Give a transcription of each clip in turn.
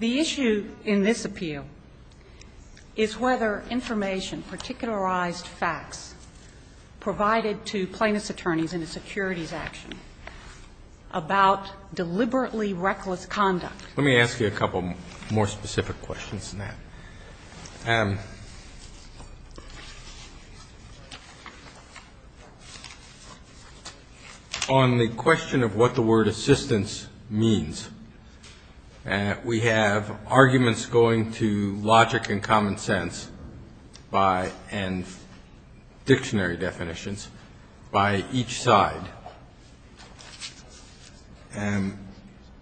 The issue in this appeal is whether information, particularized facts, provided to plaintiffs' attorneys in a securities action about deliberately reckless conduct Let me ask you a couple more specific questions than that. On the question of what the word assistance means, we have arguments going to logic and common sense and dictionary definitions by each side.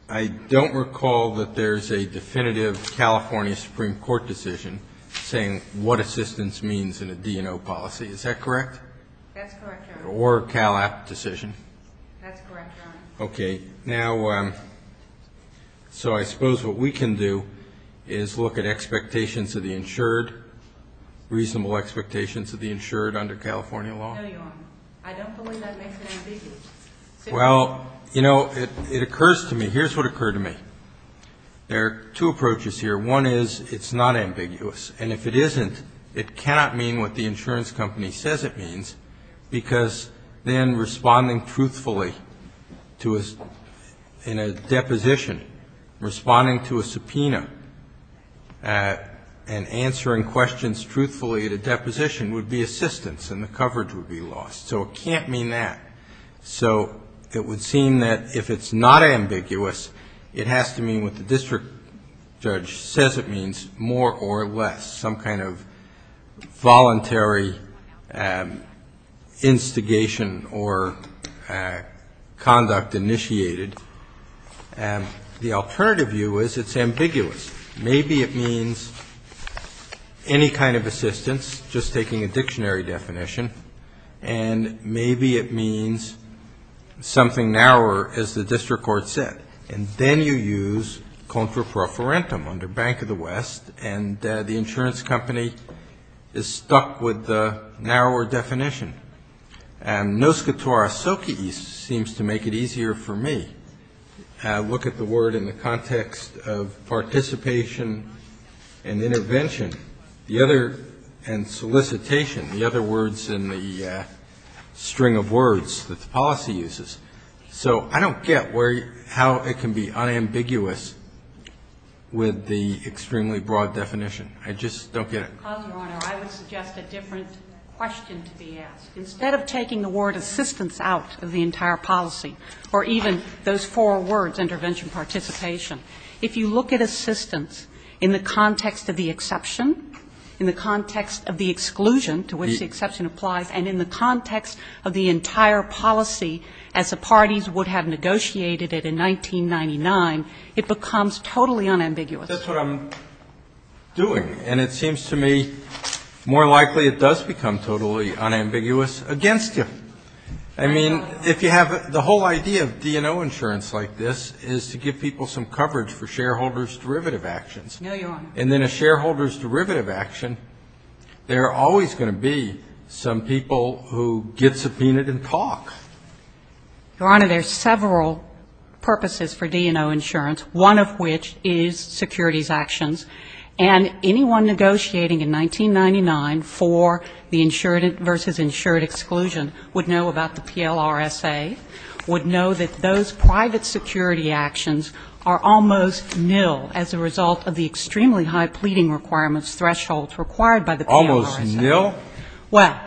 I don't recall that there's a definitive California Supreme Court decision saying what assistance means in a D&O policy. Is that correct? That's correct, Your Honor. Or a Cal-APT decision? That's correct, Your Honor. Okay. Now, so I suppose what we can do is look at expectations of the insured, reasonable expectations of the insured under California law? No, Your Honor. I don't believe that makes it ambiguous. Well, you know, it occurs to me, here's what occurred to me. There are two approaches here. One is it's not ambiguous. And if it isn't, it cannot mean what the insurance company says it means, because then responding truthfully to a, in a deposition, responding to a subpoena, and answering questions truthfully at a deposition would be assistance and the case would be lost. So it can't mean that. So it would seem that if it's not ambiguous, it has to mean what the district judge says it means, more or less, some kind of voluntary instigation or conduct initiated. The alternative view is it's ambiguous. Maybe it means any kind of assistance, just taking a dictionary definition, and maybe it means something narrower, as the district court said. And then you use contra pro forentum, under Bank of the West, and the insurance company is stuck with the narrower definition. And NOSCATORA SOCIES seems to make it easier for me. I look at the word in the context of participation and intervention. The other words in the string of words that the policy uses. So I don't get where, how it can be unambiguous with the extremely broad definition. I just don't get it. Ms. Kovner, I would suggest a different question to be asked. Instead of taking the word assistance out of the entire policy, or even those four words, intervention, participation, if you look at assistance in the context of the exception, in the context of the exclusion, to which the exception applies, and in the context of the entire policy as the parties would have negotiated it in 1999, it becomes totally unambiguous. That's what I'm doing. And it seems to me more likely it does become totally unambiguous against you. I mean, if you have the whole idea of D&O insurance like this is to give people some coverage for shareholders' derivative actions, and then a shareholder's derivative action, there are always going to be some people who get subpoenaed and talk. Your Honor, there are several purposes for D&O insurance, one of which is securities actions. And anyone negotiating in 1999 for the insured versus insured exclusion would know about the PLRSA, would know that those private security actions are almost nil as a result of the extremely high pleading requirements thresholds required by the PLRSA. Almost nil? Well,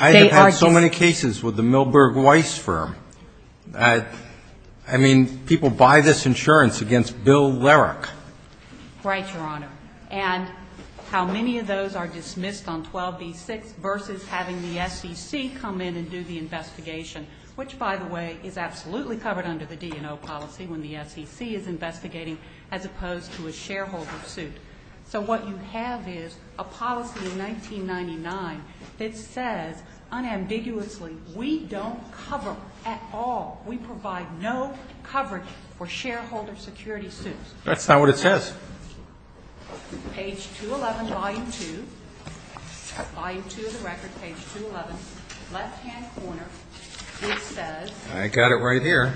they are just so ñ I have had so many cases with the Milberg Weiss firm. I mean, people buy this insurance against Bill Lerich. Right, Your Honor. And how many of those are dismissed on 12b-6 versus having the SEC come in and do the investigation, which, by the way, is absolutely covered under the D&O policy when the SEC is investigating, as opposed to a shareholder suit. So what you have is a policy in 1999 that says unambiguously, we don't cover at all, we provide no coverage for shareholder security suits. That's not what it says. Page 211, volume 2. Volume 2 of the record, page 211, left-hand corner. It says ñ I got it right here.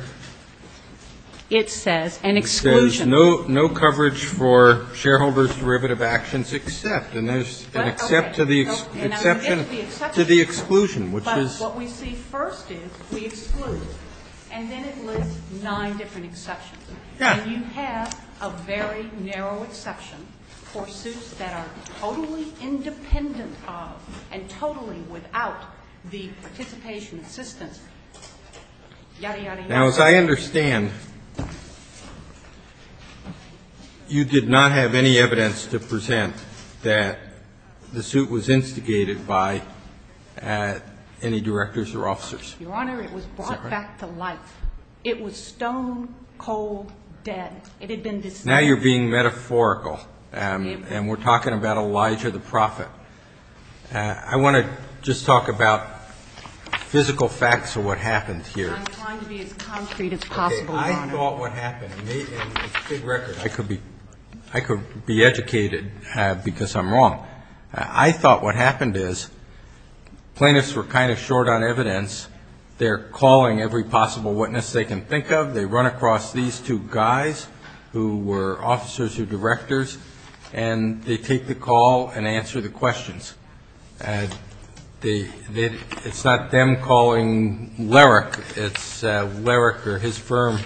It says an exclusion. It says no coverage for shareholders' derivative actions except. And there's an except to the exception, to the exclusion, which is ñ But what we see first is we exclude. And then it lists nine different exceptions. Yes. And you have a very narrow exception for suits that are totally independent of and totally without the participation assistance, yadda, yadda, yadda. Now, as I understand, you did not have any evidence to present that the suit was instigated by any directors or officers. Your Honor, it was brought back to life. It was stone-cold dead. It had been dismissed. Now you're being metaphorical, and we're talking about Elijah the Prophet. I want to just talk about physical facts of what happened here. I'm trying to be as concrete as possible, Your Honor. Okay. I thought what happened, and it's a big record. I could be educated because I'm wrong. I thought what happened is plaintiffs were kind of short on evidence. They're calling every possible witness they can think of. They run across these two guys who were officers or directors, and they take the call and answer the questions. It's not them calling Larrick. It's Larrick or his firm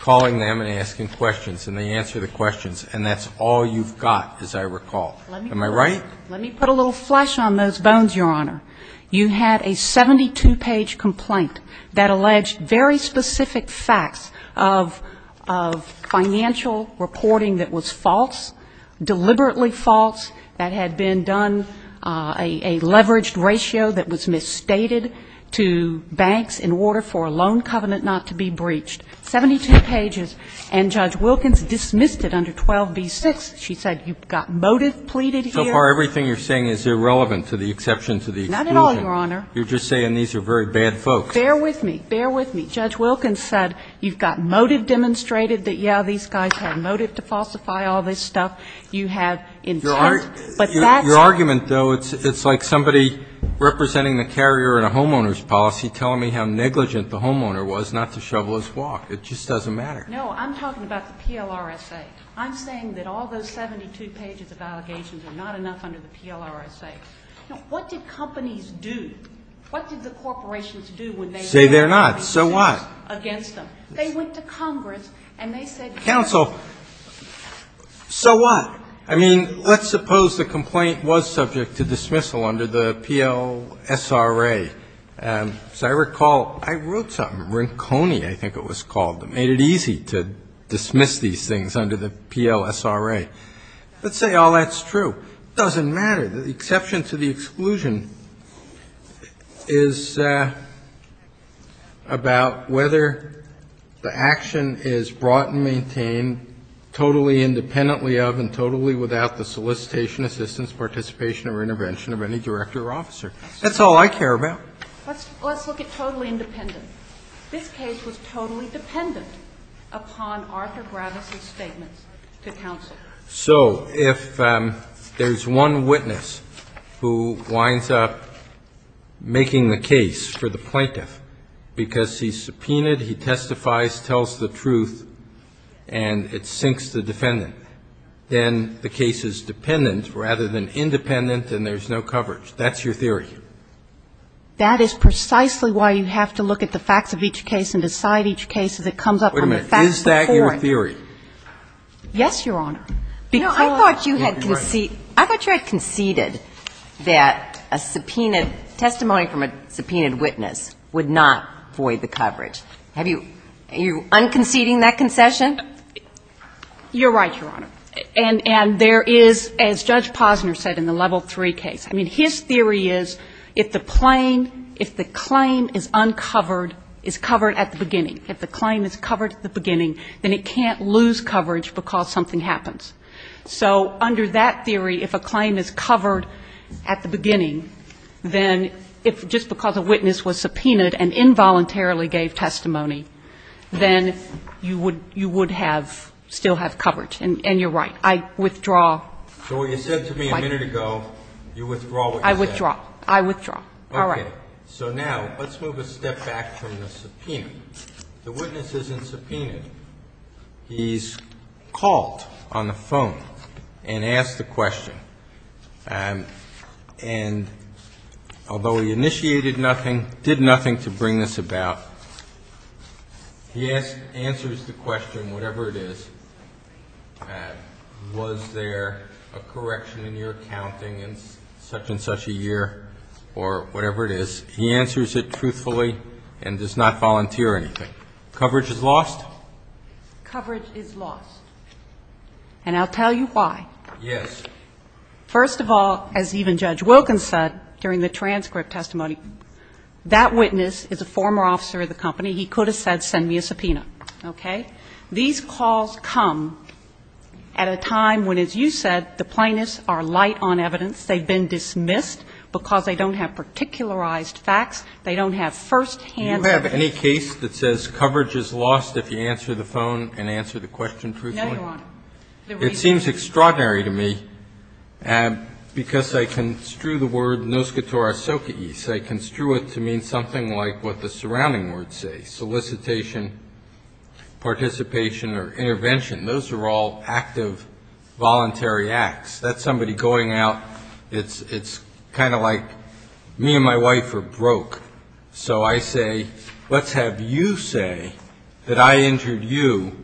calling them and asking questions, and they answer the questions. And that's all you've got, as I recall. Am I right? Let me put a little flesh on those bones, Your Honor. You had a 72-page complaint that alleged very specific facts of financial reporting that was false, deliberately false, that had been done, a leveraged ratio that was misstated to banks in order for a loan covenant not to be breached. Seventy-two pages, and Judge Wilkins dismissed it under 12b-6. She said, you've got motive pleaded here. So far, everything you're saying is irrelevant to the exception to the exclusion. Not at all, Your Honor. You're just saying these are very bad folks. Bear with me. Bear with me. Judge Wilkins said, you've got motive demonstrated that, yeah, these guys had motive to falsify all this stuff. You have intent, but that's Your argument, though, it's like somebody representing the carrier in a homeowner's policy telling me how negligent the homeowner was not to shovel his walk. It just doesn't matter. No. I'm talking about the PLRSA. I'm saying that all those 72 pages of allegations are not enough under the PLRSA. What did companies do? What did the corporations do when they heard the allegations against them? Say they're not. So what? They went to Congress, and they said they're not going to do it. Counsel, so what? I mean, let's suppose the complaint was subject to dismissal under the PLSRA. As I recall, I wrote something, Rinconi, I think it was called. It made it easy to dismiss these things under the PLSRA. Let's say all that's true. It doesn't matter. The exception to the exclusion is about whether the action is brought and maintained totally independently of and totally without the solicitation, assistance, participation or intervention of any director or officer. That's all I care about. Let's look at totally independent. This case was totally dependent upon Arthur Gravis' statements to counsel. So if there's one witness who winds up making the case for the plaintiff because he subpoenaed, he testifies, tells the truth, and it sinks the defendant, then the case is dependent rather than independent, and there's no coverage. That's your theory. That is precisely why you have to look at the facts of each case and decide each case as it comes up from the facts before it. Wait a minute. Is that your theory? Yes, Your Honor. Because you had conceded that a subpoenaed testimony from a subpoenaed witness would not void the coverage. Are you un-conceding that concession? You're right, Your Honor. And there is, as Judge Posner said in the Level III case, I mean, his theory is if the claim is uncovered, is covered at the beginning, if the claim is covered at the beginning, then it can't lose coverage because something happens. So under that theory, if a claim is covered at the beginning, then if just because a witness was subpoenaed and involuntarily gave testimony, then you would have still have coverage. And you're right. I withdraw. So what you said to me a minute ago, you withdraw what you said. I withdraw. I withdraw. All right. So now let's move a step back from the subpoena. The witness isn't subpoenaed. He's called on the phone and asked the question. And although he initiated nothing, did nothing to bring this about, he answers the question, whatever it is, was there a correction in your accounting in such and such a year or whatever it is, he answers it truthfully and does not volunteer anything. Coverage is lost? Coverage is lost. And I'll tell you why. Yes. First of all, as even Judge Wilkins said during the transcript testimony, that witness is a former officer of the company. He could have said send me a subpoena. Okay? These calls come at a time when, as you said, the plaintiffs are light on evidence. They've been dismissed because they don't have particularized facts. They don't have firsthand evidence. Do you have any case that says coverage is lost if you answer the phone and answer the question truthfully? No, Your Honor. It seems extraordinary to me because I construe the word, noscitora socae, I construe it to mean something like what the surrounding words say, solicitation, participation or intervention. Those are all active voluntary acts. That's somebody going out. It's kind of like me and my wife are broke. So I say, let's have you say that I injured you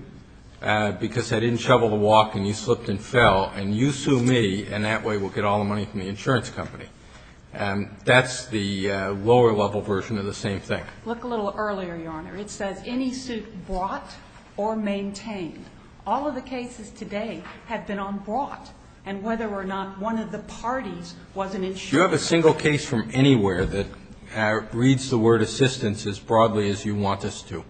because I didn't shovel the walk and you slipped and fell and you sue me and that way we'll get all the money from the insurance company. And that's the lower level version of the same thing. Look a little earlier, Your Honor. It says any suit brought or maintained. All of the cases today have been on brought. And whether or not one of the parties was an insurer. Do you have a single case from anywhere that reads the word assistance as broadly as you want us to?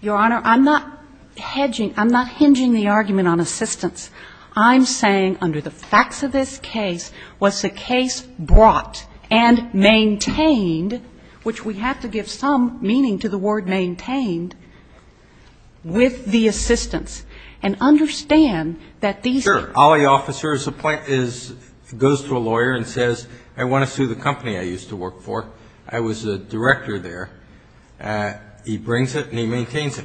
Your Honor, I'm not hedging. I'm not hinging the argument on assistance. I'm saying under the facts of this case, was the case brought and maintained, which we have to give some meaning to the word maintained, with the assistance. And understand that these... Sure. All the officers goes to a lawyer and says, I want to sue the company I used to work for. I was a director there. He brings it and he maintains it.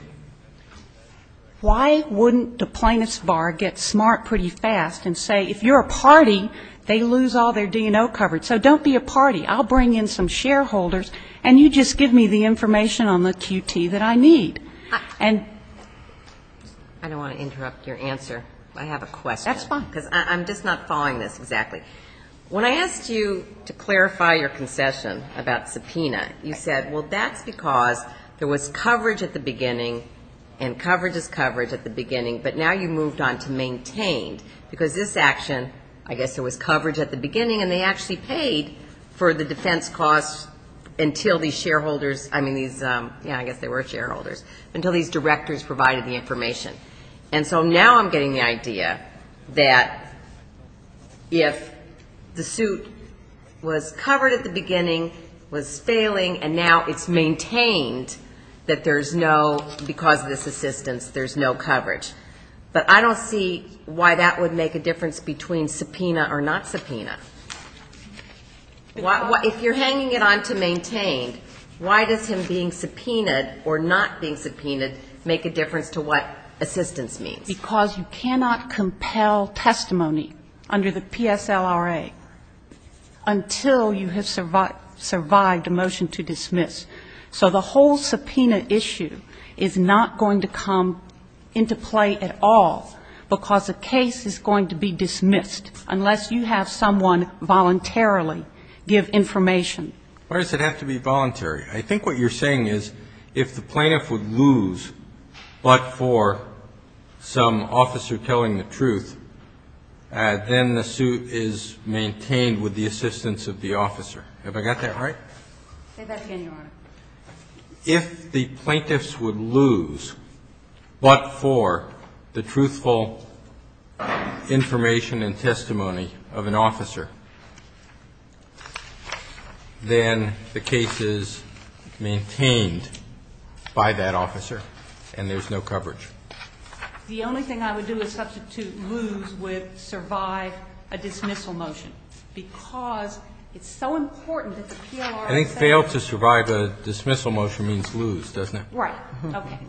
Why wouldn't a plaintiff's bar get smart pretty fast and say, if you're a party, they lose all their D&O coverage. So don't be a party. I'll bring in some shareholders and you just give me the information on the QT that I need. And... I don't want to interrupt your answer. I have a question. That's fine. Because I'm just not following this exactly. When I asked you to clarify your concession about subpoena, you said, well, that's because there was coverage at the beginning and coverage is coverage at the beginning. But now you moved on to maintained. Because this action, I guess there was coverage at the beginning and they actually paid for the defense costs until these shareholders, I mean these, I guess they were shareholders, until these directors provided the information. And so now I'm getting the idea that if the suit was covered at the beginning, was failing, and now it's maintained that there's no, because of this assistance, there's no coverage. But I don't see why that would make a difference between subpoena or not subpoena. If you're hanging it on to maintained, why does him being subpoenaed or not being subpoenaed make a difference to what assistance means? Because you cannot compel testimony under the PSLRA until you have survived a motion to dismiss. So the whole subpoena issue is not going to come into play at all because the case is going to be dismissed unless you have someone voluntarily give information. Why does it have to be voluntary? I think what you're saying is if the plaintiff would lose but for some officer telling the truth, then the suit is maintained with the assistance of the officer. Have I got that right? Say that again, Your Honor. If the plaintiffs would lose but for the truthful information and testimony of an officer, then the case is maintained by that officer and there's no coverage. The only thing I would do is substitute lose with survive a dismissal motion because it's so important that the PLRSA I think fail to survive a dismissal motion means lose, doesn't it? Right. Okay.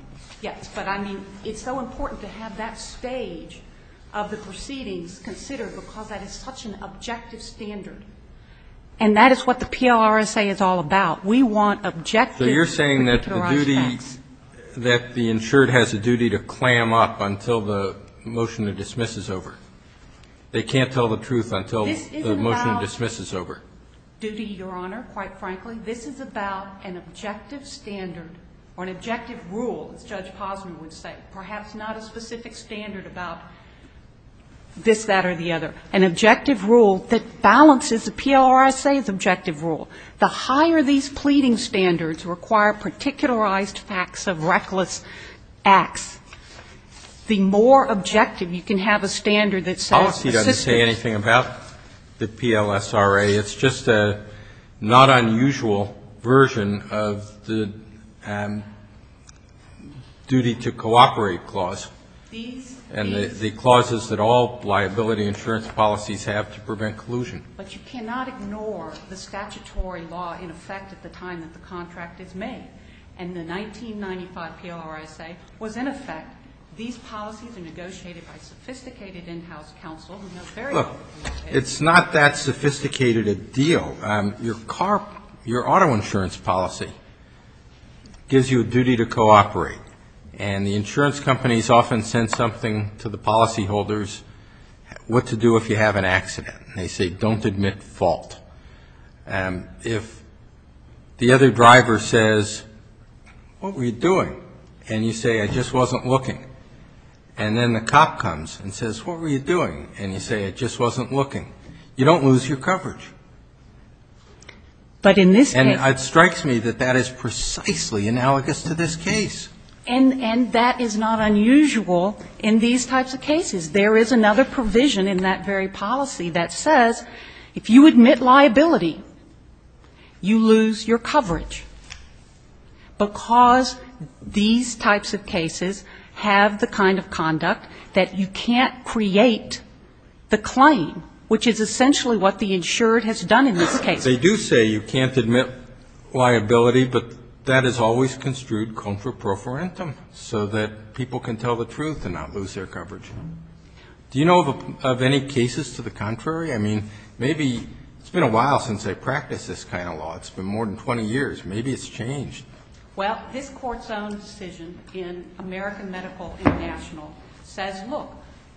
Yes, but I mean it's so important to have that stage of the proceedings considered because that is such an objective standard. And that is what the PLRSA is all about. So you're saying that the insured has a duty to clam up until the motion to dismiss is over? They can't tell the truth until the motion to dismiss is over? This isn't about duty, Your Honor, quite frankly. This is about an objective standard or an objective rule, as Judge Posner would say. Perhaps not a specific standard about this, that, or the other. An objective rule that balances the PLRSA's objective rule. The higher these pleading standards require particularized facts of reckless acts the more objective you can have a standard that says... Policy doesn't say anything about the PLSRA. It's just a not unusual version of the duty to cooperate clause and the clauses that all liability insurance policies have to prevent collusion. But you cannot ignore the statutory law in effect at the time that the contract is made. And the 1995 PLRSA was in effect these policies are negotiated by sophisticated in-house counsel... Look, it's not that sophisticated a deal. Your car your auto insurance policy gives you a duty to cooperate. And the insurance companies often send something to the policy holders what to do if you have an accident. They say don't admit fault. If the other driver says what were you doing? And you say I just wasn't looking. And then the cop comes and says what were you doing? And you say I just wasn't looking. You don't lose your coverage. But in this case... And it strikes me that that is precisely analogous to this case. And that is not unusual in these types of cases. There is another provision in that very policy that says if you admit liability, you lose your coverage. Because these types of cases have the kind of conduct that you can't create the claim, which is essentially what the insured has done in this case. They do say you can't admit liability, but that is always construed con for pro for intum, so that people can tell the truth. It's been a while since I practiced this kind of law. It's been more than 20 years. Maybe it's changed. Well, this court's own decision in American Medical International says look,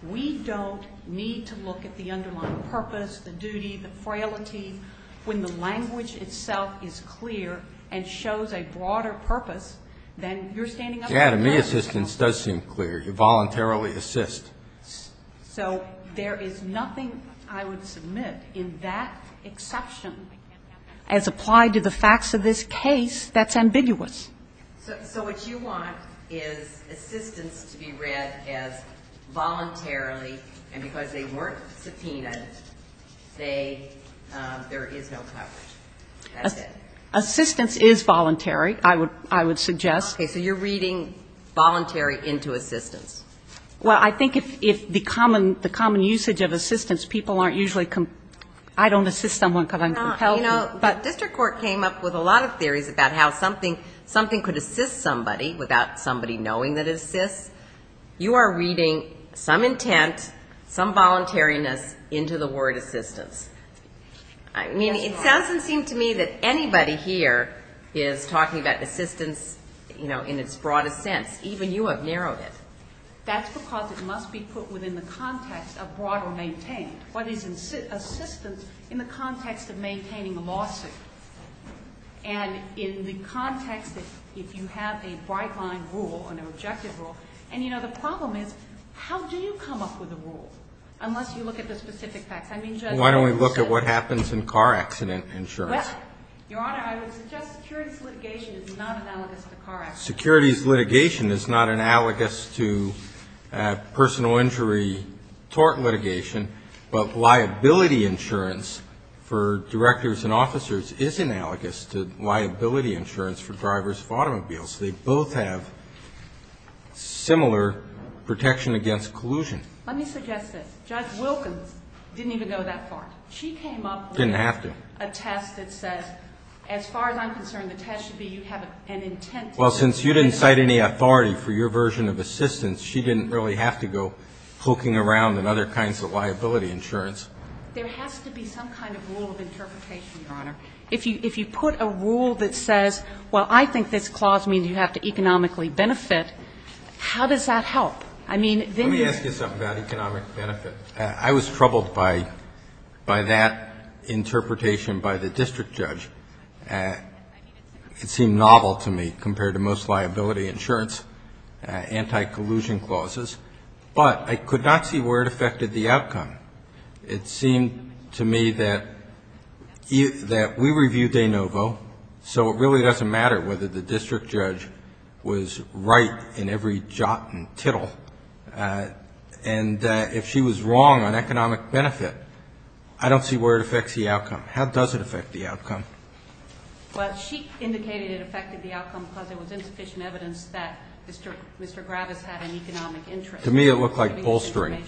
we don't need to look at the underlying purpose, the duty, the frailty, when the language itself is clear and shows a broader purpose than you're standing up for. Yeah, to me, assistance does seem clear. You voluntarily assist. So there is nothing I would submit in that exception as applied to the facts of this case that's ambiguous. So what you want is assistance to be read as voluntarily, and because they weren't subpoenaed, say there is no coverage. That's it. Assistance is voluntary, I would suggest. Okay, so you're reading voluntary into assistance. Well, I think if the common usage of assistance, people aren't usually I don't assist someone because I'm compelled to. The district court came up with a lot of theories about how something could assist somebody without somebody knowing that it assists. You are reading some intent, some voluntariness into the word assistance. I mean, it doesn't seem to me that anybody here is talking about assistance in its broadest sense. Even you have narrowed it. That's because it must be put within the context of broader maintaining. What is assistance in the context of maintaining a lawsuit? And in the context that if you have a bright line rule, an objective rule, and you know the problem is, how do you come up with a rule? Unless you look at the specific facts. Why don't we look at what Securities litigation is not analogous to car accidents. Securities litigation is not analogous to personal injury tort litigation. But liability insurance for directors and officers is analogous to liability insurance for drivers of automobiles. They both have similar protection against collusion. Let me suggest this. Judge Wilkins didn't even go that far. She came up with a test that says as far as I'm concerned, the test should be you have an intent Well, since you didn't cite any authority for your version of assistance she didn't really have to go poking around in other kinds of liability insurance. There has to be some kind of rule of interpretation, Your Honor. If you put a rule that says, well, I think this clause means you have to economically benefit, how does that help? Let me ask you something about economic benefit. I was troubled by that interpretation by the district judge. It seemed novel to me compared to most liability insurance anti-collusion clauses but I could not see where it affected the outcome. It seemed to me that we reviewed De Novo so it really doesn't matter whether the district judge was right in every jot and tittle and if she was wrong on economic benefit I don't see where it affects the outcome. How does it affect the outcome? Well, she indicated it affected the outcome because there was insufficient evidence that Mr. Gravis had an economic interest To me it looked like bolstering.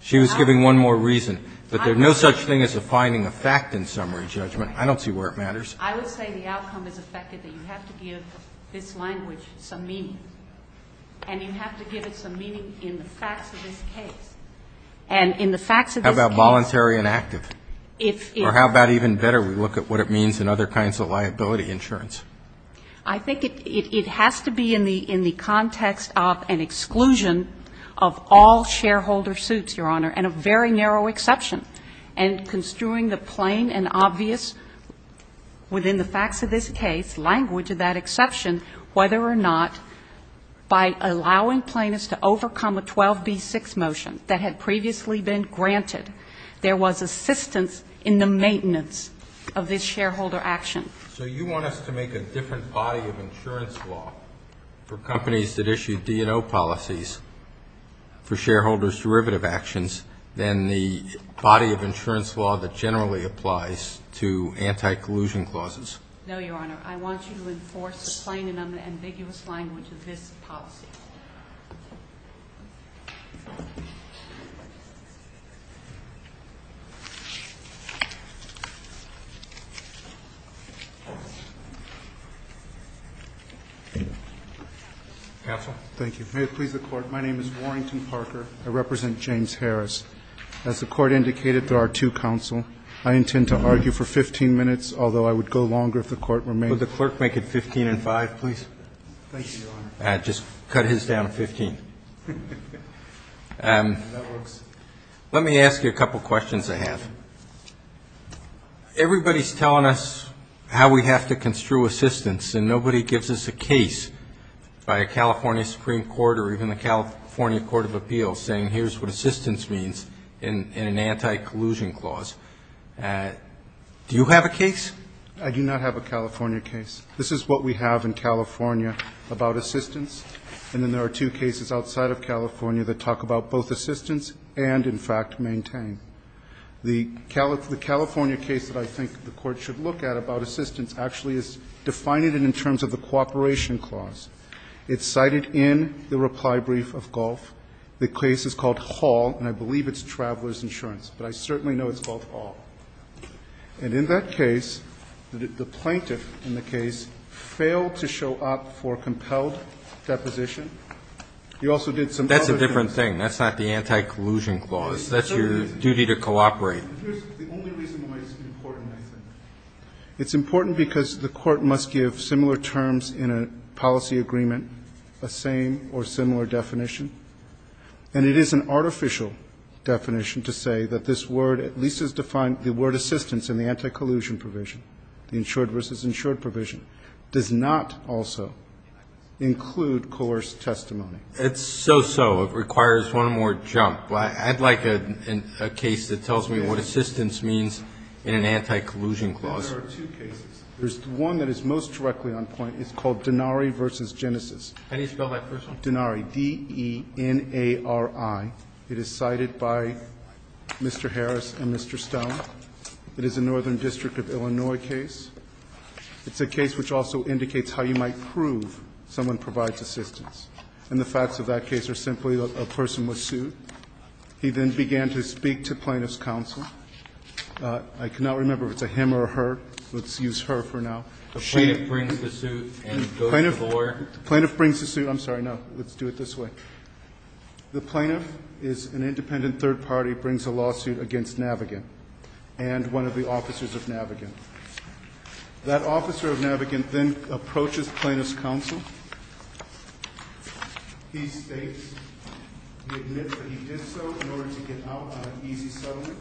She was giving one more reason. But there's no such thing as a finding of fact in summary judgment. I don't see where it matters. I would say the outcome is affected that you have to give this language some meaning and you have to give it some meaning in the facts of this case How about voluntary and active? Or how about even better, we look at what it means in other kinds of liability insurance? I think it has to be in the context of an exclusion of all shareholder suits and a very narrow exception and construing the plain and obvious within the facts of this case, language of that exception whether or not by allowing plaintiffs to overcome a 12B6 motion that had previously been granted, there was assistance in the maintenance of this shareholder action. So you want us to make a different body of insurance law for companies that issue D&O policies for shareholders' derivative actions than the body of insurance law that No, Your Honor. I want you to enforce the plain and ambiguous language of this policy. Counsel? Thank you. May it please the Court. My name is Warrington Parker. I represent James Harris. As the Court indicated through our two counsel I intend to argue for 15 minutes, although I would go longer if the Court remained. Just cut his down to 15. Let me ask you a couple questions I have. Everybody's telling us how we have to construe assistance and nobody gives us a case by a California Supreme Court or even the California Court of Appeals saying here's what assistance means in an anti-collusion clause. Do you have a case? I do not have a California case. This is what we have in California about assistance. And then there are two cases outside of California that talk about both assistance and in fact maintain. The California case that I think the Court should look at about assistance actually is defining it in terms of the cooperation clause. It's cited in the reply brief of Gulf. The case is called Hall and I believe it's Traveler's Insurance but I certainly know it's called Hall. And in that case, the plaintiff in the case failed to show up for compelled deposition. You also did some other things. That's a different thing. That's not the anti-collusion clause. That's your duty to cooperate. It's important because the Court must give similar terms in a policy agreement a same or similar definition. And it is an artificial definition to say that this word at least is defined, the word assistance in the anti-collusion provision, the insured versus insured provision does not also include coerced testimony. It's so-so. It requires one more jump. I'd like a case that tells me what assistance means in an anti-collusion clause. There are two cases. There's one that is most directly on point. It's called Denari v. Genesis. Denari. D-E-N-A-R-I. It is cited by Mr. Harris and Mr. Stone. It is a Northern District of Illinois case. It's a case which also indicates how you might prove someone provides assistance. And the facts of that case are simply that a person was sued. He then began to speak to plaintiff's counsel. I cannot remember if it's a him or her. Let's use her for now. Plaintiff brings the suit. I'm sorry, no. Let's do it this way. The plaintiff is an independent third party, brings a lawsuit against Navigant and one of the officers of Navigant. That officer of Navigant then approaches plaintiff's counsel. He states, he admits that he did so in order to get out on an easy settlement.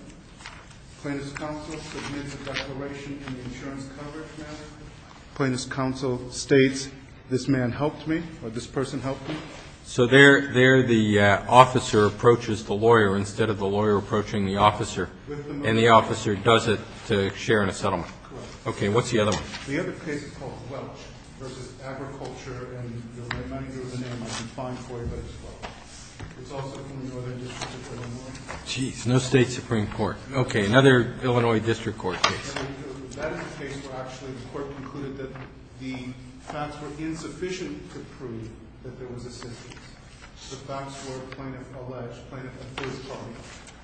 Plaintiff's counsel submits a declaration in the insurance coverage matter. Plaintiff's counsel states this man helped me or this person helped me. So there the officer approaches the lawyer instead of the lawyer approaching the officer. And the officer does it to share in a settlement. The other case is called Welch v. Agriculture. Geez, no state Supreme Court. Okay, another Illinois district court case. That is a case where actually the court concluded that the facts were insufficient to prove that there was a sentence. The facts were plaintiff alleged, plaintiff and first party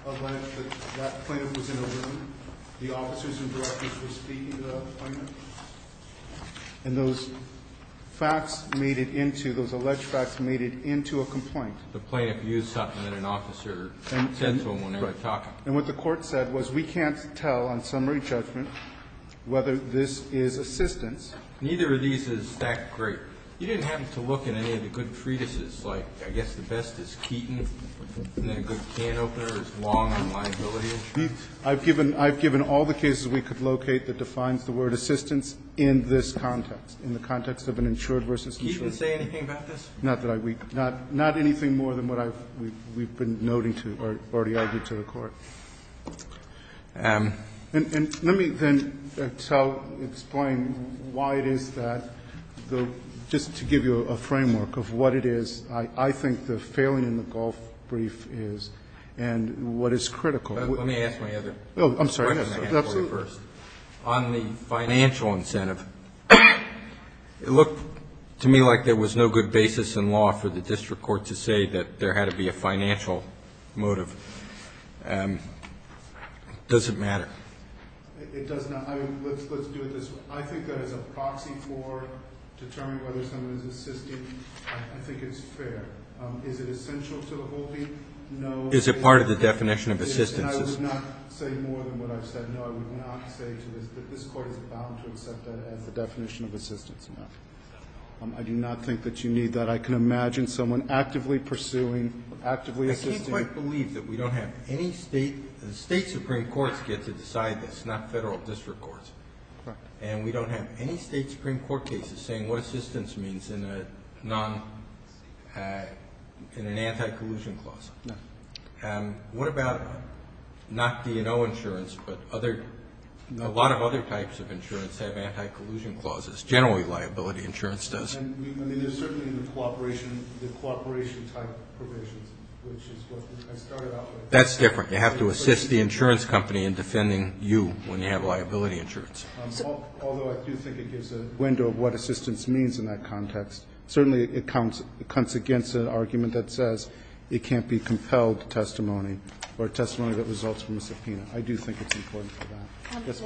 alleged that that plaintiff was in a room. The officers and directors were speaking to the plaintiff. And those facts made it into, those alleged facts made it into a complaint. The plaintiff used something that an officer said to him when they were talking. And what the court said was we can't tell on summary judgment whether this is assistance. Neither of these is that great. You didn't have to look at any of the good treatises like I guess the best is Keaton. I've given all the cases we could locate that defines the word assistance in this context. In the context of an insured versus insured. Not anything more than what we've been noting to or already argued to the court. And let me then explain why it is that just to give you a framework of what it is I think the failing in the Gulf brief is and what is critical. Let me ask my other question. On the financial incentive it looked to me like there was no good basis in law for the district court to say that there had to be a financial motive. Does it matter? Let's do it this way. I think that as a proxy for determining whether someone is assisting I think it's fair. Is it essential to the whole thing? Is it part of the definition of assistance? I would not say more than what I've said. This court is bound to accept that as the definition of assistance. I do not think that you need that. I can imagine someone actively pursuing I can't quite believe that we don't have any state supreme courts get to decide this. Not federal district courts. And we don't have any state supreme court cases saying what assistance means in an anti-collusion clause. What about not D&O insurance but a lot of other types of insurance have anti-collusion clauses. Generally liability insurance does. There's certainly the cooperation type provisions That's different. You have to assist the insurance company in defending you when you have liability insurance. Although I do think it gives a window of what assistance means in that context. Certainly it comes against an argument that says it can't be compelled testimony or testimony that results from a subpoena. I do think it's important for that.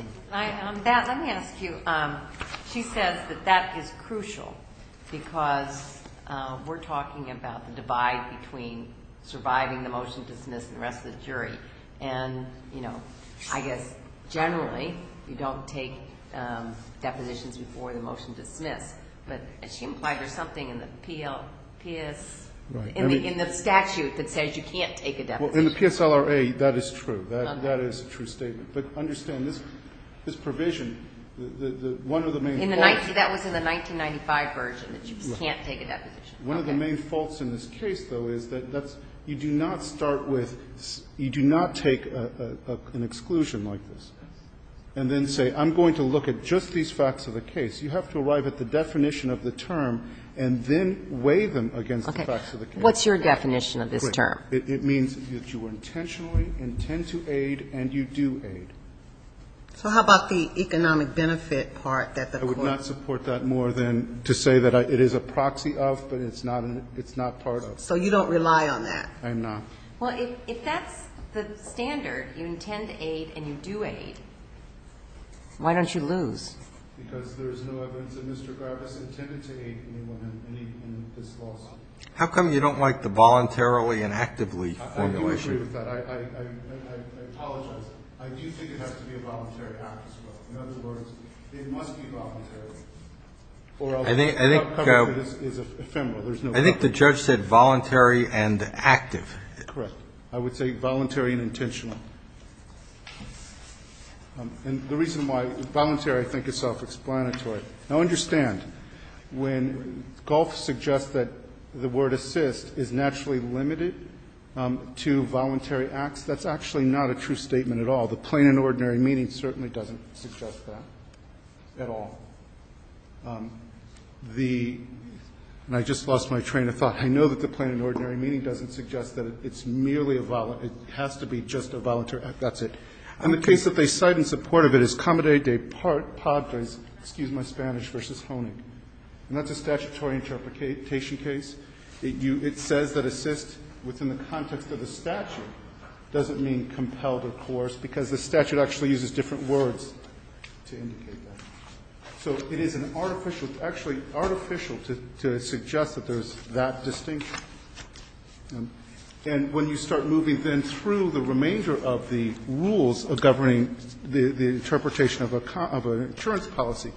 Let me ask you. She says that that is crucial because we're talking about the divide between surviving the motion dismissed and the rest of the jury. I guess generally you don't take depositions before the motion dismissed. But she implied there's something in the statute that says you can't take a deposition. In the PSLRA that is true. That is a true statement. But understand this provision That was in the 1995 version that you can't take a deposition. One of the main faults in this case though is that you do not start with you do not take an exclusion like this and then say I'm going to look at just these facts of the case. You have to arrive at the definition of the term and then weigh them against the facts of the case. What's your definition of this term? It means that you intentionally intend to aid and you do aid. So how about the economic benefit part? I would not support that more than to say that it is a proxy of but it's not part of. So you don't rely on that? I'm not. If that's the standard, you intend to aid and you do aid why don't you lose? Because there's no evidence that Mr. Garbus intended to aid anyone in this lawsuit. How come you don't like the voluntarily and actively formulation? I do agree with that. I apologize. I do think it has to be a voluntary act as well. In other words, it must be voluntary. I think the judge said voluntary and active. Correct. I would say voluntary and intentional. And the reason why voluntary I think is self-explanatory. Now understand, when Goff suggests that the word assist is naturally limited to voluntary acts, that's actually not a true statement at all. The plain and ordinary meaning certainly doesn't suggest that at all. And I just lost my train of thought. I know that the plain and ordinary meaning doesn't suggest that it has to be just a voluntary act. That's it. And the case that they cite in support of it is Comadre de Padres versus Honig. And that's a statutory interpretation case. It says that assist within the context of the statute doesn't mean compelled or coerced because the statute actually uses different words to indicate that. So it is an artificial, actually artificial to suggest that there's that distinction. And when you start moving then through the remainder of the rules governing the interpretation of an insurance policy,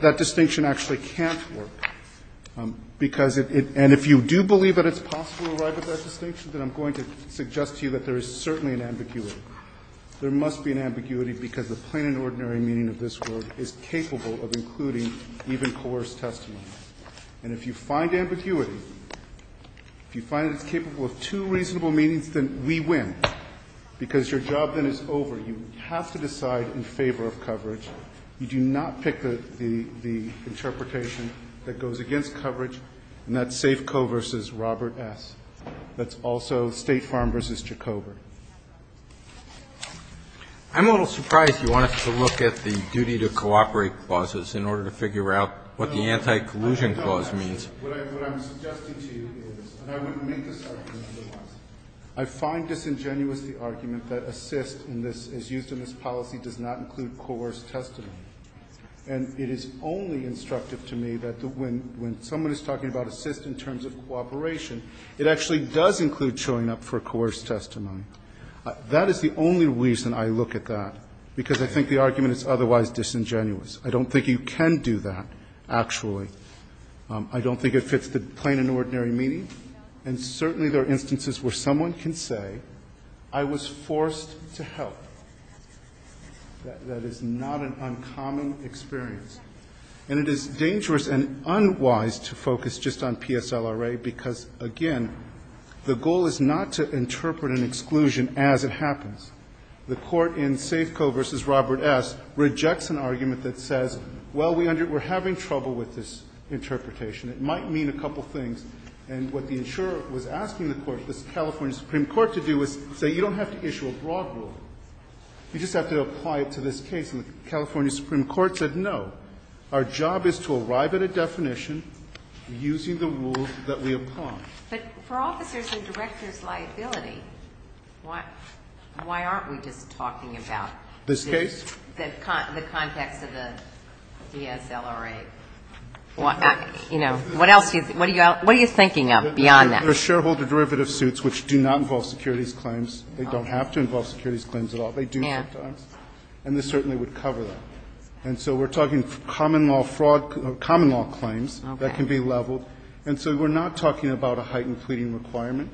that distinction actually can't work. And if you do believe that it's possible to arrive at that distinction, then I'm going to suggest to you that there is certainly an ambiguity. There must be an ambiguity because the plain and ordinary meaning of this word is capable of including even coerced testimony. And if you find ambiguity, if you find it's capable of two reasonable meanings, then we win. Because your job then is over. You have to decide in favor of coverage. You do not pick the interpretation that goes against coverage and that's Safeco v. Robert S. That's also State Farm v. Jacober. I'm a little surprised you want us to look at the duty to cooperate clauses in order to figure out what the anti-collusion clause means. What I'm suggesting to you is, and I wouldn't make this argument otherwise, I find disingenuous the argument that assist as used in this policy does not include coerced testimony. And it is only instructive to me that when someone is talking about assist in terms of cooperation, it actually does include showing up for coerced testimony. That is the only reason I look at that, because I think the argument is otherwise disingenuous. I don't think you can do that, actually. I don't think it fits the plain and ordinary meaning. And certainly there are instances where someone can say, I was forced to help. That is not an uncommon experience. And it is dangerous and unwise to focus just on PSLRA because, again, the goal is not to interpret an exclusion as it happens. The Court in Safeco v. Robert S. rejects an argument that says, well, we're having trouble with this interpretation. It might mean a couple of things. And what the insurer was asking the Court, the California Supreme Court, to do is say you don't have to issue a broad rule. You just have to apply it to this case. And the California Supreme Court said, no. Our job is to arrive at a definition using the rule that we apply. But for officers and directors' liability, why aren't we just talking about the context of the DSLRA? You know, what else do you think? What are you thinking of beyond that? They're shareholder derivative suits which do not involve securities claims. They don't have to involve securities claims at all. They do sometimes. And this certainly would cover that. And so we're talking common law fraud or common law claims that can be leveled. And so we're not talking about a heightened pleading requirement.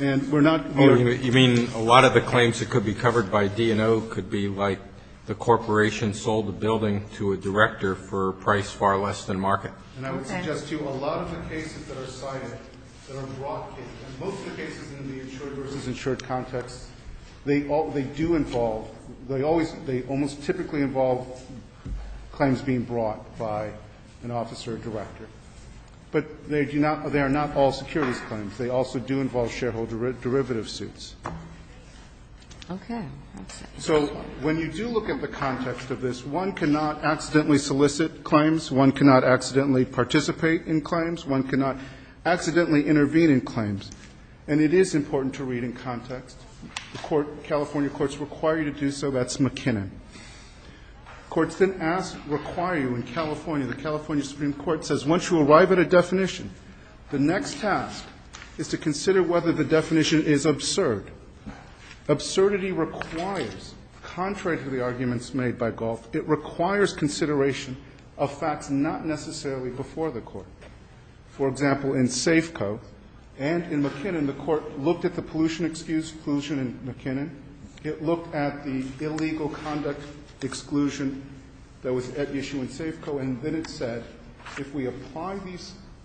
And we're not, you know ---- Roberts, you mean a lot of the claims that could be covered by D&O could be like the corporation sold a building to a director for a price far less than market? And I would suggest to you a lot of the cases that are cited that are broad cases Most of the cases in the insured versus insured context, they do involve, they almost typically involve claims being brought by an officer or director. But they are not all securities claims. They also do involve shareholder derivative suits. Okay. So when you do look at the context of this, one cannot accidentally solicit claims, one cannot accidentally participate in claims, one cannot accidentally intervene in claims. And it is important to read in context. The California courts require you to do so. That's McKinnon. Courts then ask, require you in California, the California Supreme Court says once you arrive at a definition, the next task is to consider whether the definition is absurd. Absurdity requires, contrary to the arguments made by Galt, it requires consideration of facts not necessarily before the court. For example, in Safeco and in McKinnon, the court looked at the pollution exclusion in McKinnon. It looked at the illegal conduct exclusion that was at issue in Safeco, and then it said, if we apply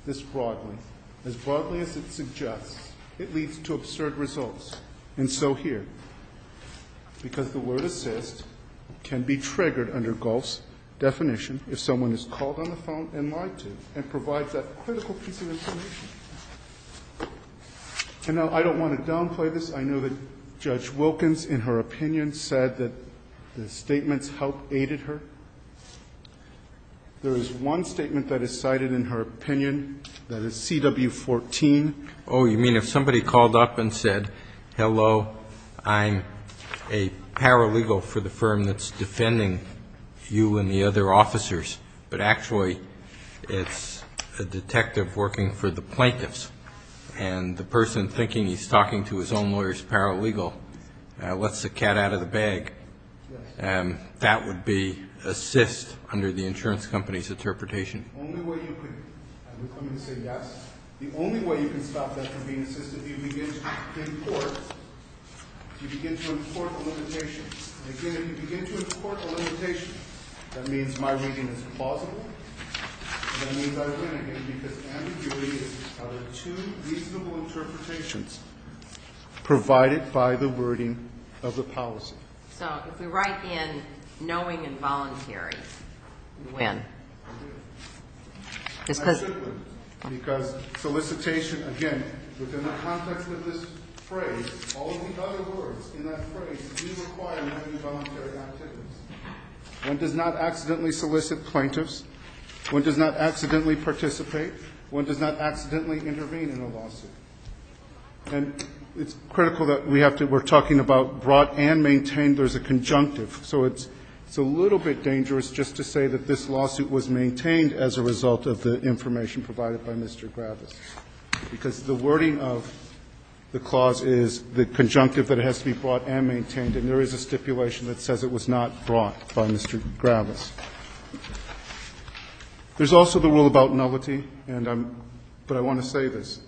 this broadly, as broadly as it suggests, it leads to absurd results. And so here, because the word assist can be triggered under Galt's definition if someone is called on the phone and lied to and provides that critical piece of information. And now, I don't want to downplay this. I know that Judge Wilkins, in her opinion, said that the statements help aided her. There is one statement that is cited in her opinion that is CW14. Oh, you mean if somebody called up and said, hello, I'm a paralegal for the firm that's defending you and the other officers, but actually it's a detective working for the plaintiffs, and the person thinking he's talking to his own lawyer is paralegal, lets the cat out of the bag. Yes. That would be assist under the insurance company's interpretation. The only way you could, and we're coming to say yes, the only way you can stop that from being assist is if you begin to import, if you begin to import a limitation. And again, if you begin to import a limitation, that means my reading is plausible. That means I win again because ambiguity is two reasonable interpretations provided by the wording of the policy. So if we write in knowing and voluntary, you win. I win. I simply win because solicitation, again, within the context of this phrase, all the other words in that phrase do require knowing and voluntary activities. One does not accidentally solicit plaintiffs. One does not accidentally participate. One does not accidentally intervene in a lawsuit. And it's critical that we have to be talking about brought and maintained. There's a conjunctive. So it's a little bit dangerous just to say that this lawsuit was maintained as a result of the information provided by Mr. Gravis, because the wording of the law is conjunctive that it has to be brought and maintained, and there is a stipulation that says it was not brought by Mr. Gravis. There's also the rule about nullity, and I'm – but I want to say this.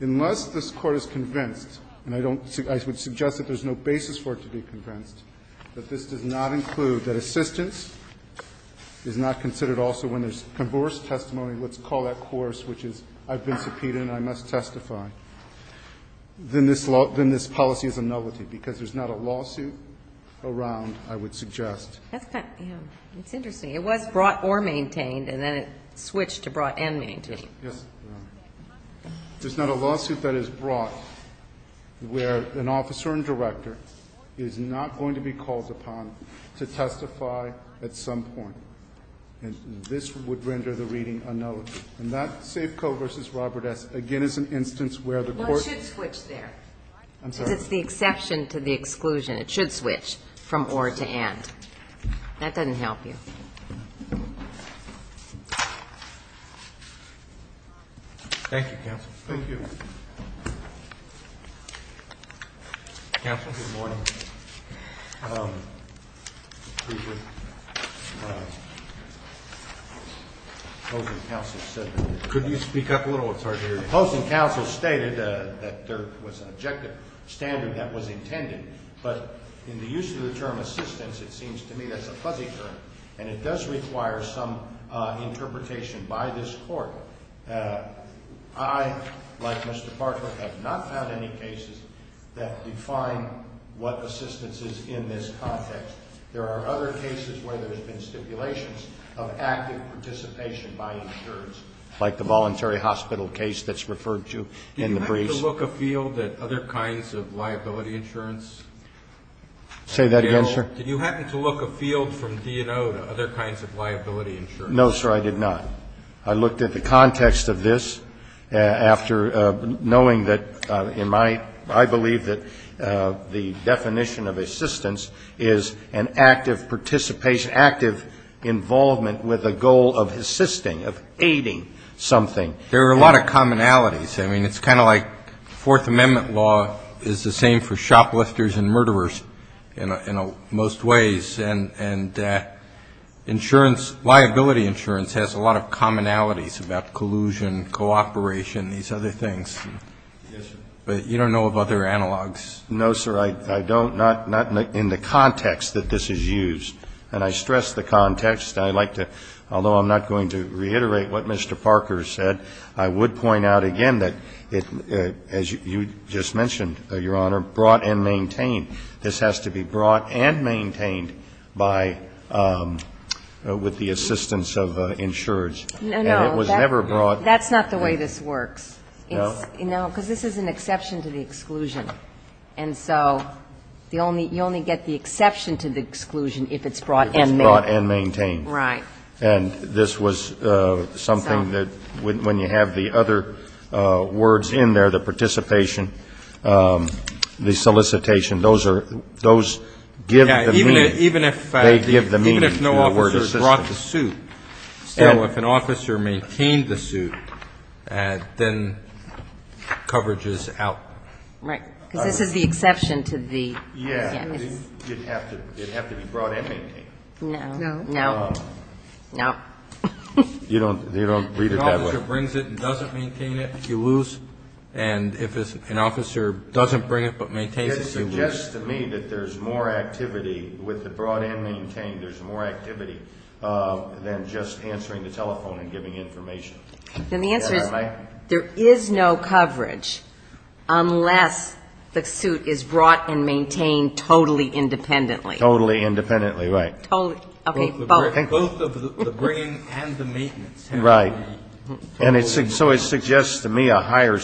Unless this Court is convinced, and I don't – I would suggest that there's no basis for it to be convinced, that this does not include that assistance is not considered also when there's converse testimony, let's call that course, which is I've been subpoenaed and I must testify. Then this law – then this policy is a nullity, because there's not a lawsuit around, I would suggest. That's kind of – yeah. It's interesting. It was brought or maintained, and then it switched to brought and maintained. Yes. There's not a lawsuit that is brought where an officer and director is not going to be called upon to testify at some point, and this would render the reading a nullity. And that Safeco v. Robert S. again is an instance where the Court – No, it should switch there. I'm sorry. Because it's the exception to the exclusion. It should switch from or to and. That doesn't help you. Thank you, counsel. Thank you. Counsel. Good morning. Could you speak up a little? It's hard to hear you. The Post and Counsel stated that there was an objective standard that was intended, but in the use of the term assistance, it seems to me that's a fuzzy term, and it does require some interpretation by this Court. I, like Mr. Bartlett, have not found any cases that define what assistance is in this context. There are other cases where there's been stipulations of active participation by insurance, like the voluntary hospital case that's referred to in the briefs. Did you happen to look afield at other kinds of liability insurance? Say that again, sir? Did you happen to look afield from D&O to other kinds of liability insurance? No, sir, I did not. I looked at the context of this after knowing that, in my eyes, I believe that the definition of assistance is an active participation, active involvement with a goal of assisting, of aiding something. There are a lot of commonalities. I mean, it's kind of like Fourth Amendment law is the same for shoplifters and murderers in most ways, and insurance, liability insurance has a lot of commonalities about collusion, cooperation, these other things. But you don't know of other analogs? No, sir. I don't, not in the context that this is used. And I stress the context. I like to, although I'm not going to reiterate what Mr. Parker said, I would point out again that, as you just mentioned, Your Honor, brought and maintained. This has to be brought and maintained by, with the assistance of insurers. No, no. And it was never brought. That's not the way this works. No? No, because this is an exception to the exclusion. And so you only get the exception to the exclusion if it's brought and maintained. If it's brought and maintained. Right. And this was something that, when you have the other words in there, the participation, the solicitation, those are, those give the meaning. Even if. They give the meaning. Even if no officer brought the suit. So if an officer maintained the suit, then coverage is out. Right. Because this is the exception to the. Yeah. It would have to be brought and maintained. No. No. No. No. You don't read it that way. If an officer brings it and doesn't maintain it, you lose. And if an officer doesn't bring it but maintains it, you lose. It suggests to me that there's more activity with the brought and maintained, there's more activity than just answering the telephone and giving information. And the answer is there is no coverage unless the suit is brought and maintained totally independently. Totally independently, right. Totally. Okay. Both of the bringing and the maintenance. Right. And so it suggests to me a higher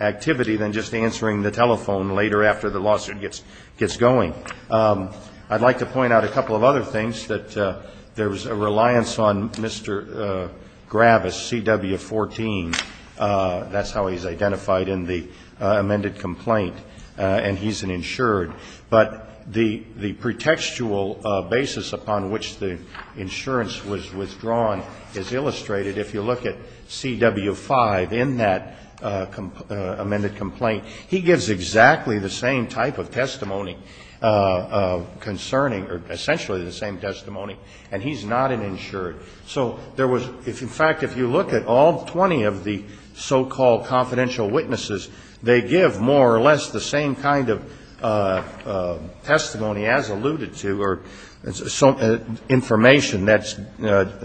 activity than just answering the telephone later after the lawsuit gets going. I'd like to point out a couple of other things, that there's a reliance on Mr. Gravis, CW 14. That's how he's identified in the amended complaint. And he's an insured. But the pretextual basis upon which the insurance was withdrawn is illustrated. If you look at CW 5 in that amended complaint, he gives exactly the same type of testimony concerning, or essentially the same testimony, and he's not an insured. So there was, in fact, if you look at all 20 of the so-called confidential witnesses, they give more or less the same kind of testimony as alluded to, or information that's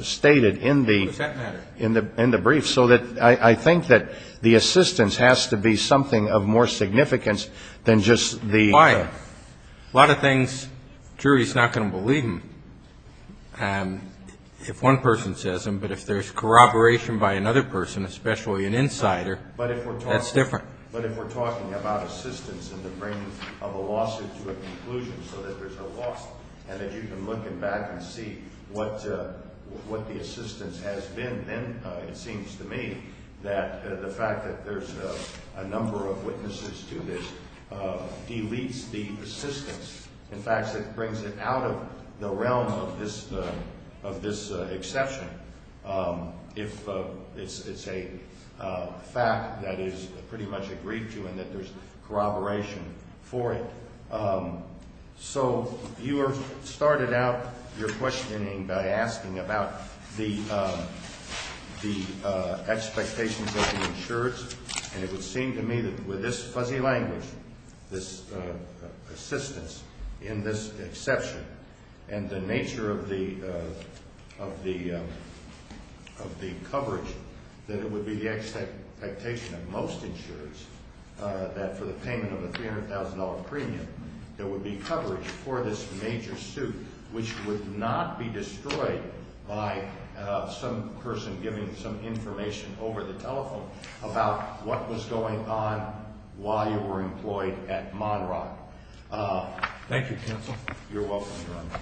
stated in the brief. So I think that the assistance has to be something of more significance than just the. A lot of things, jury's not going to believe him if one person says them. But if there's corroboration by another person, especially an insider, that's different. But if we're talking about assistance in the brain of a lawsuit to a conclusion so that there's a lawsuit and that you can look him back and see what the assistance has been, then it seems to me that the fact that there's a number of witnesses to this deletes the assistance. In fact, it brings it out of the realm of this exception if it's a fact that is pretty much agreed to and that there's corroboration for it. So you started out your questioning by asking about the expectations of the insurance, and it would seem to me that with this fuzzy language, this assistance in this exception, and the nature of the coverage, that it would be the expectation of most insurers that for the payment of a $300,000 premium there would be coverage for this major suit, which would not be destroyed by some person giving some information over the telephone about what was going on while you were employed at Monroe. Thank you, counsel. You're welcome, Your Honor.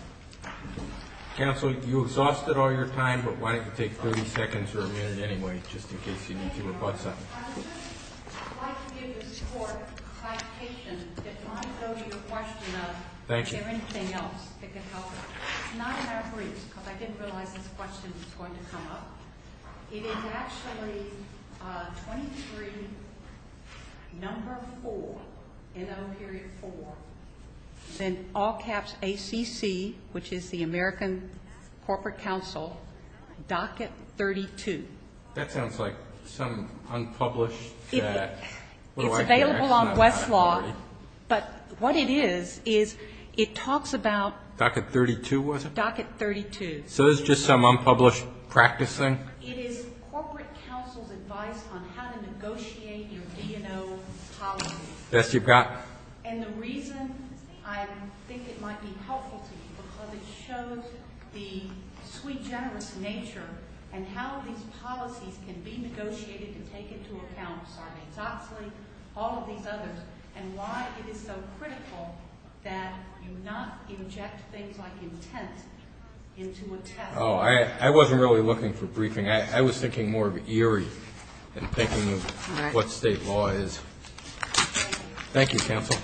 Counsel, you exhausted all your time, but why don't you take 30 seconds or a minute anyway, just in case you need to rebut something. I would just like to give this court clarification. Thank you. It's not in our briefs, because I didn't realize this question was going to come up. It is actually 23 number 4, NO. 4, then all caps ACC, which is the American Corporate Council, docket 32. That sounds like some unpublished document. It's available on Westlaw, but what it is, is it talks about docket 32. So it's just some unpublished practice thing? It is Corporate Council's advice on how to negotiate your V&O policies. Yes, you've got it. And the reason I think it might be helpful to you, because it shows the sweet, generous nature and how these policies can be negotiated to take into account Sarney-Doxley, all of these others, and why it is so critical that you not inject things like intent into a test. Oh, I wasn't really looking for briefing. I was thinking more of Erie and thinking of what state law is. Thank you. Thank you, counsel. Thank you. Thank you. Thank you.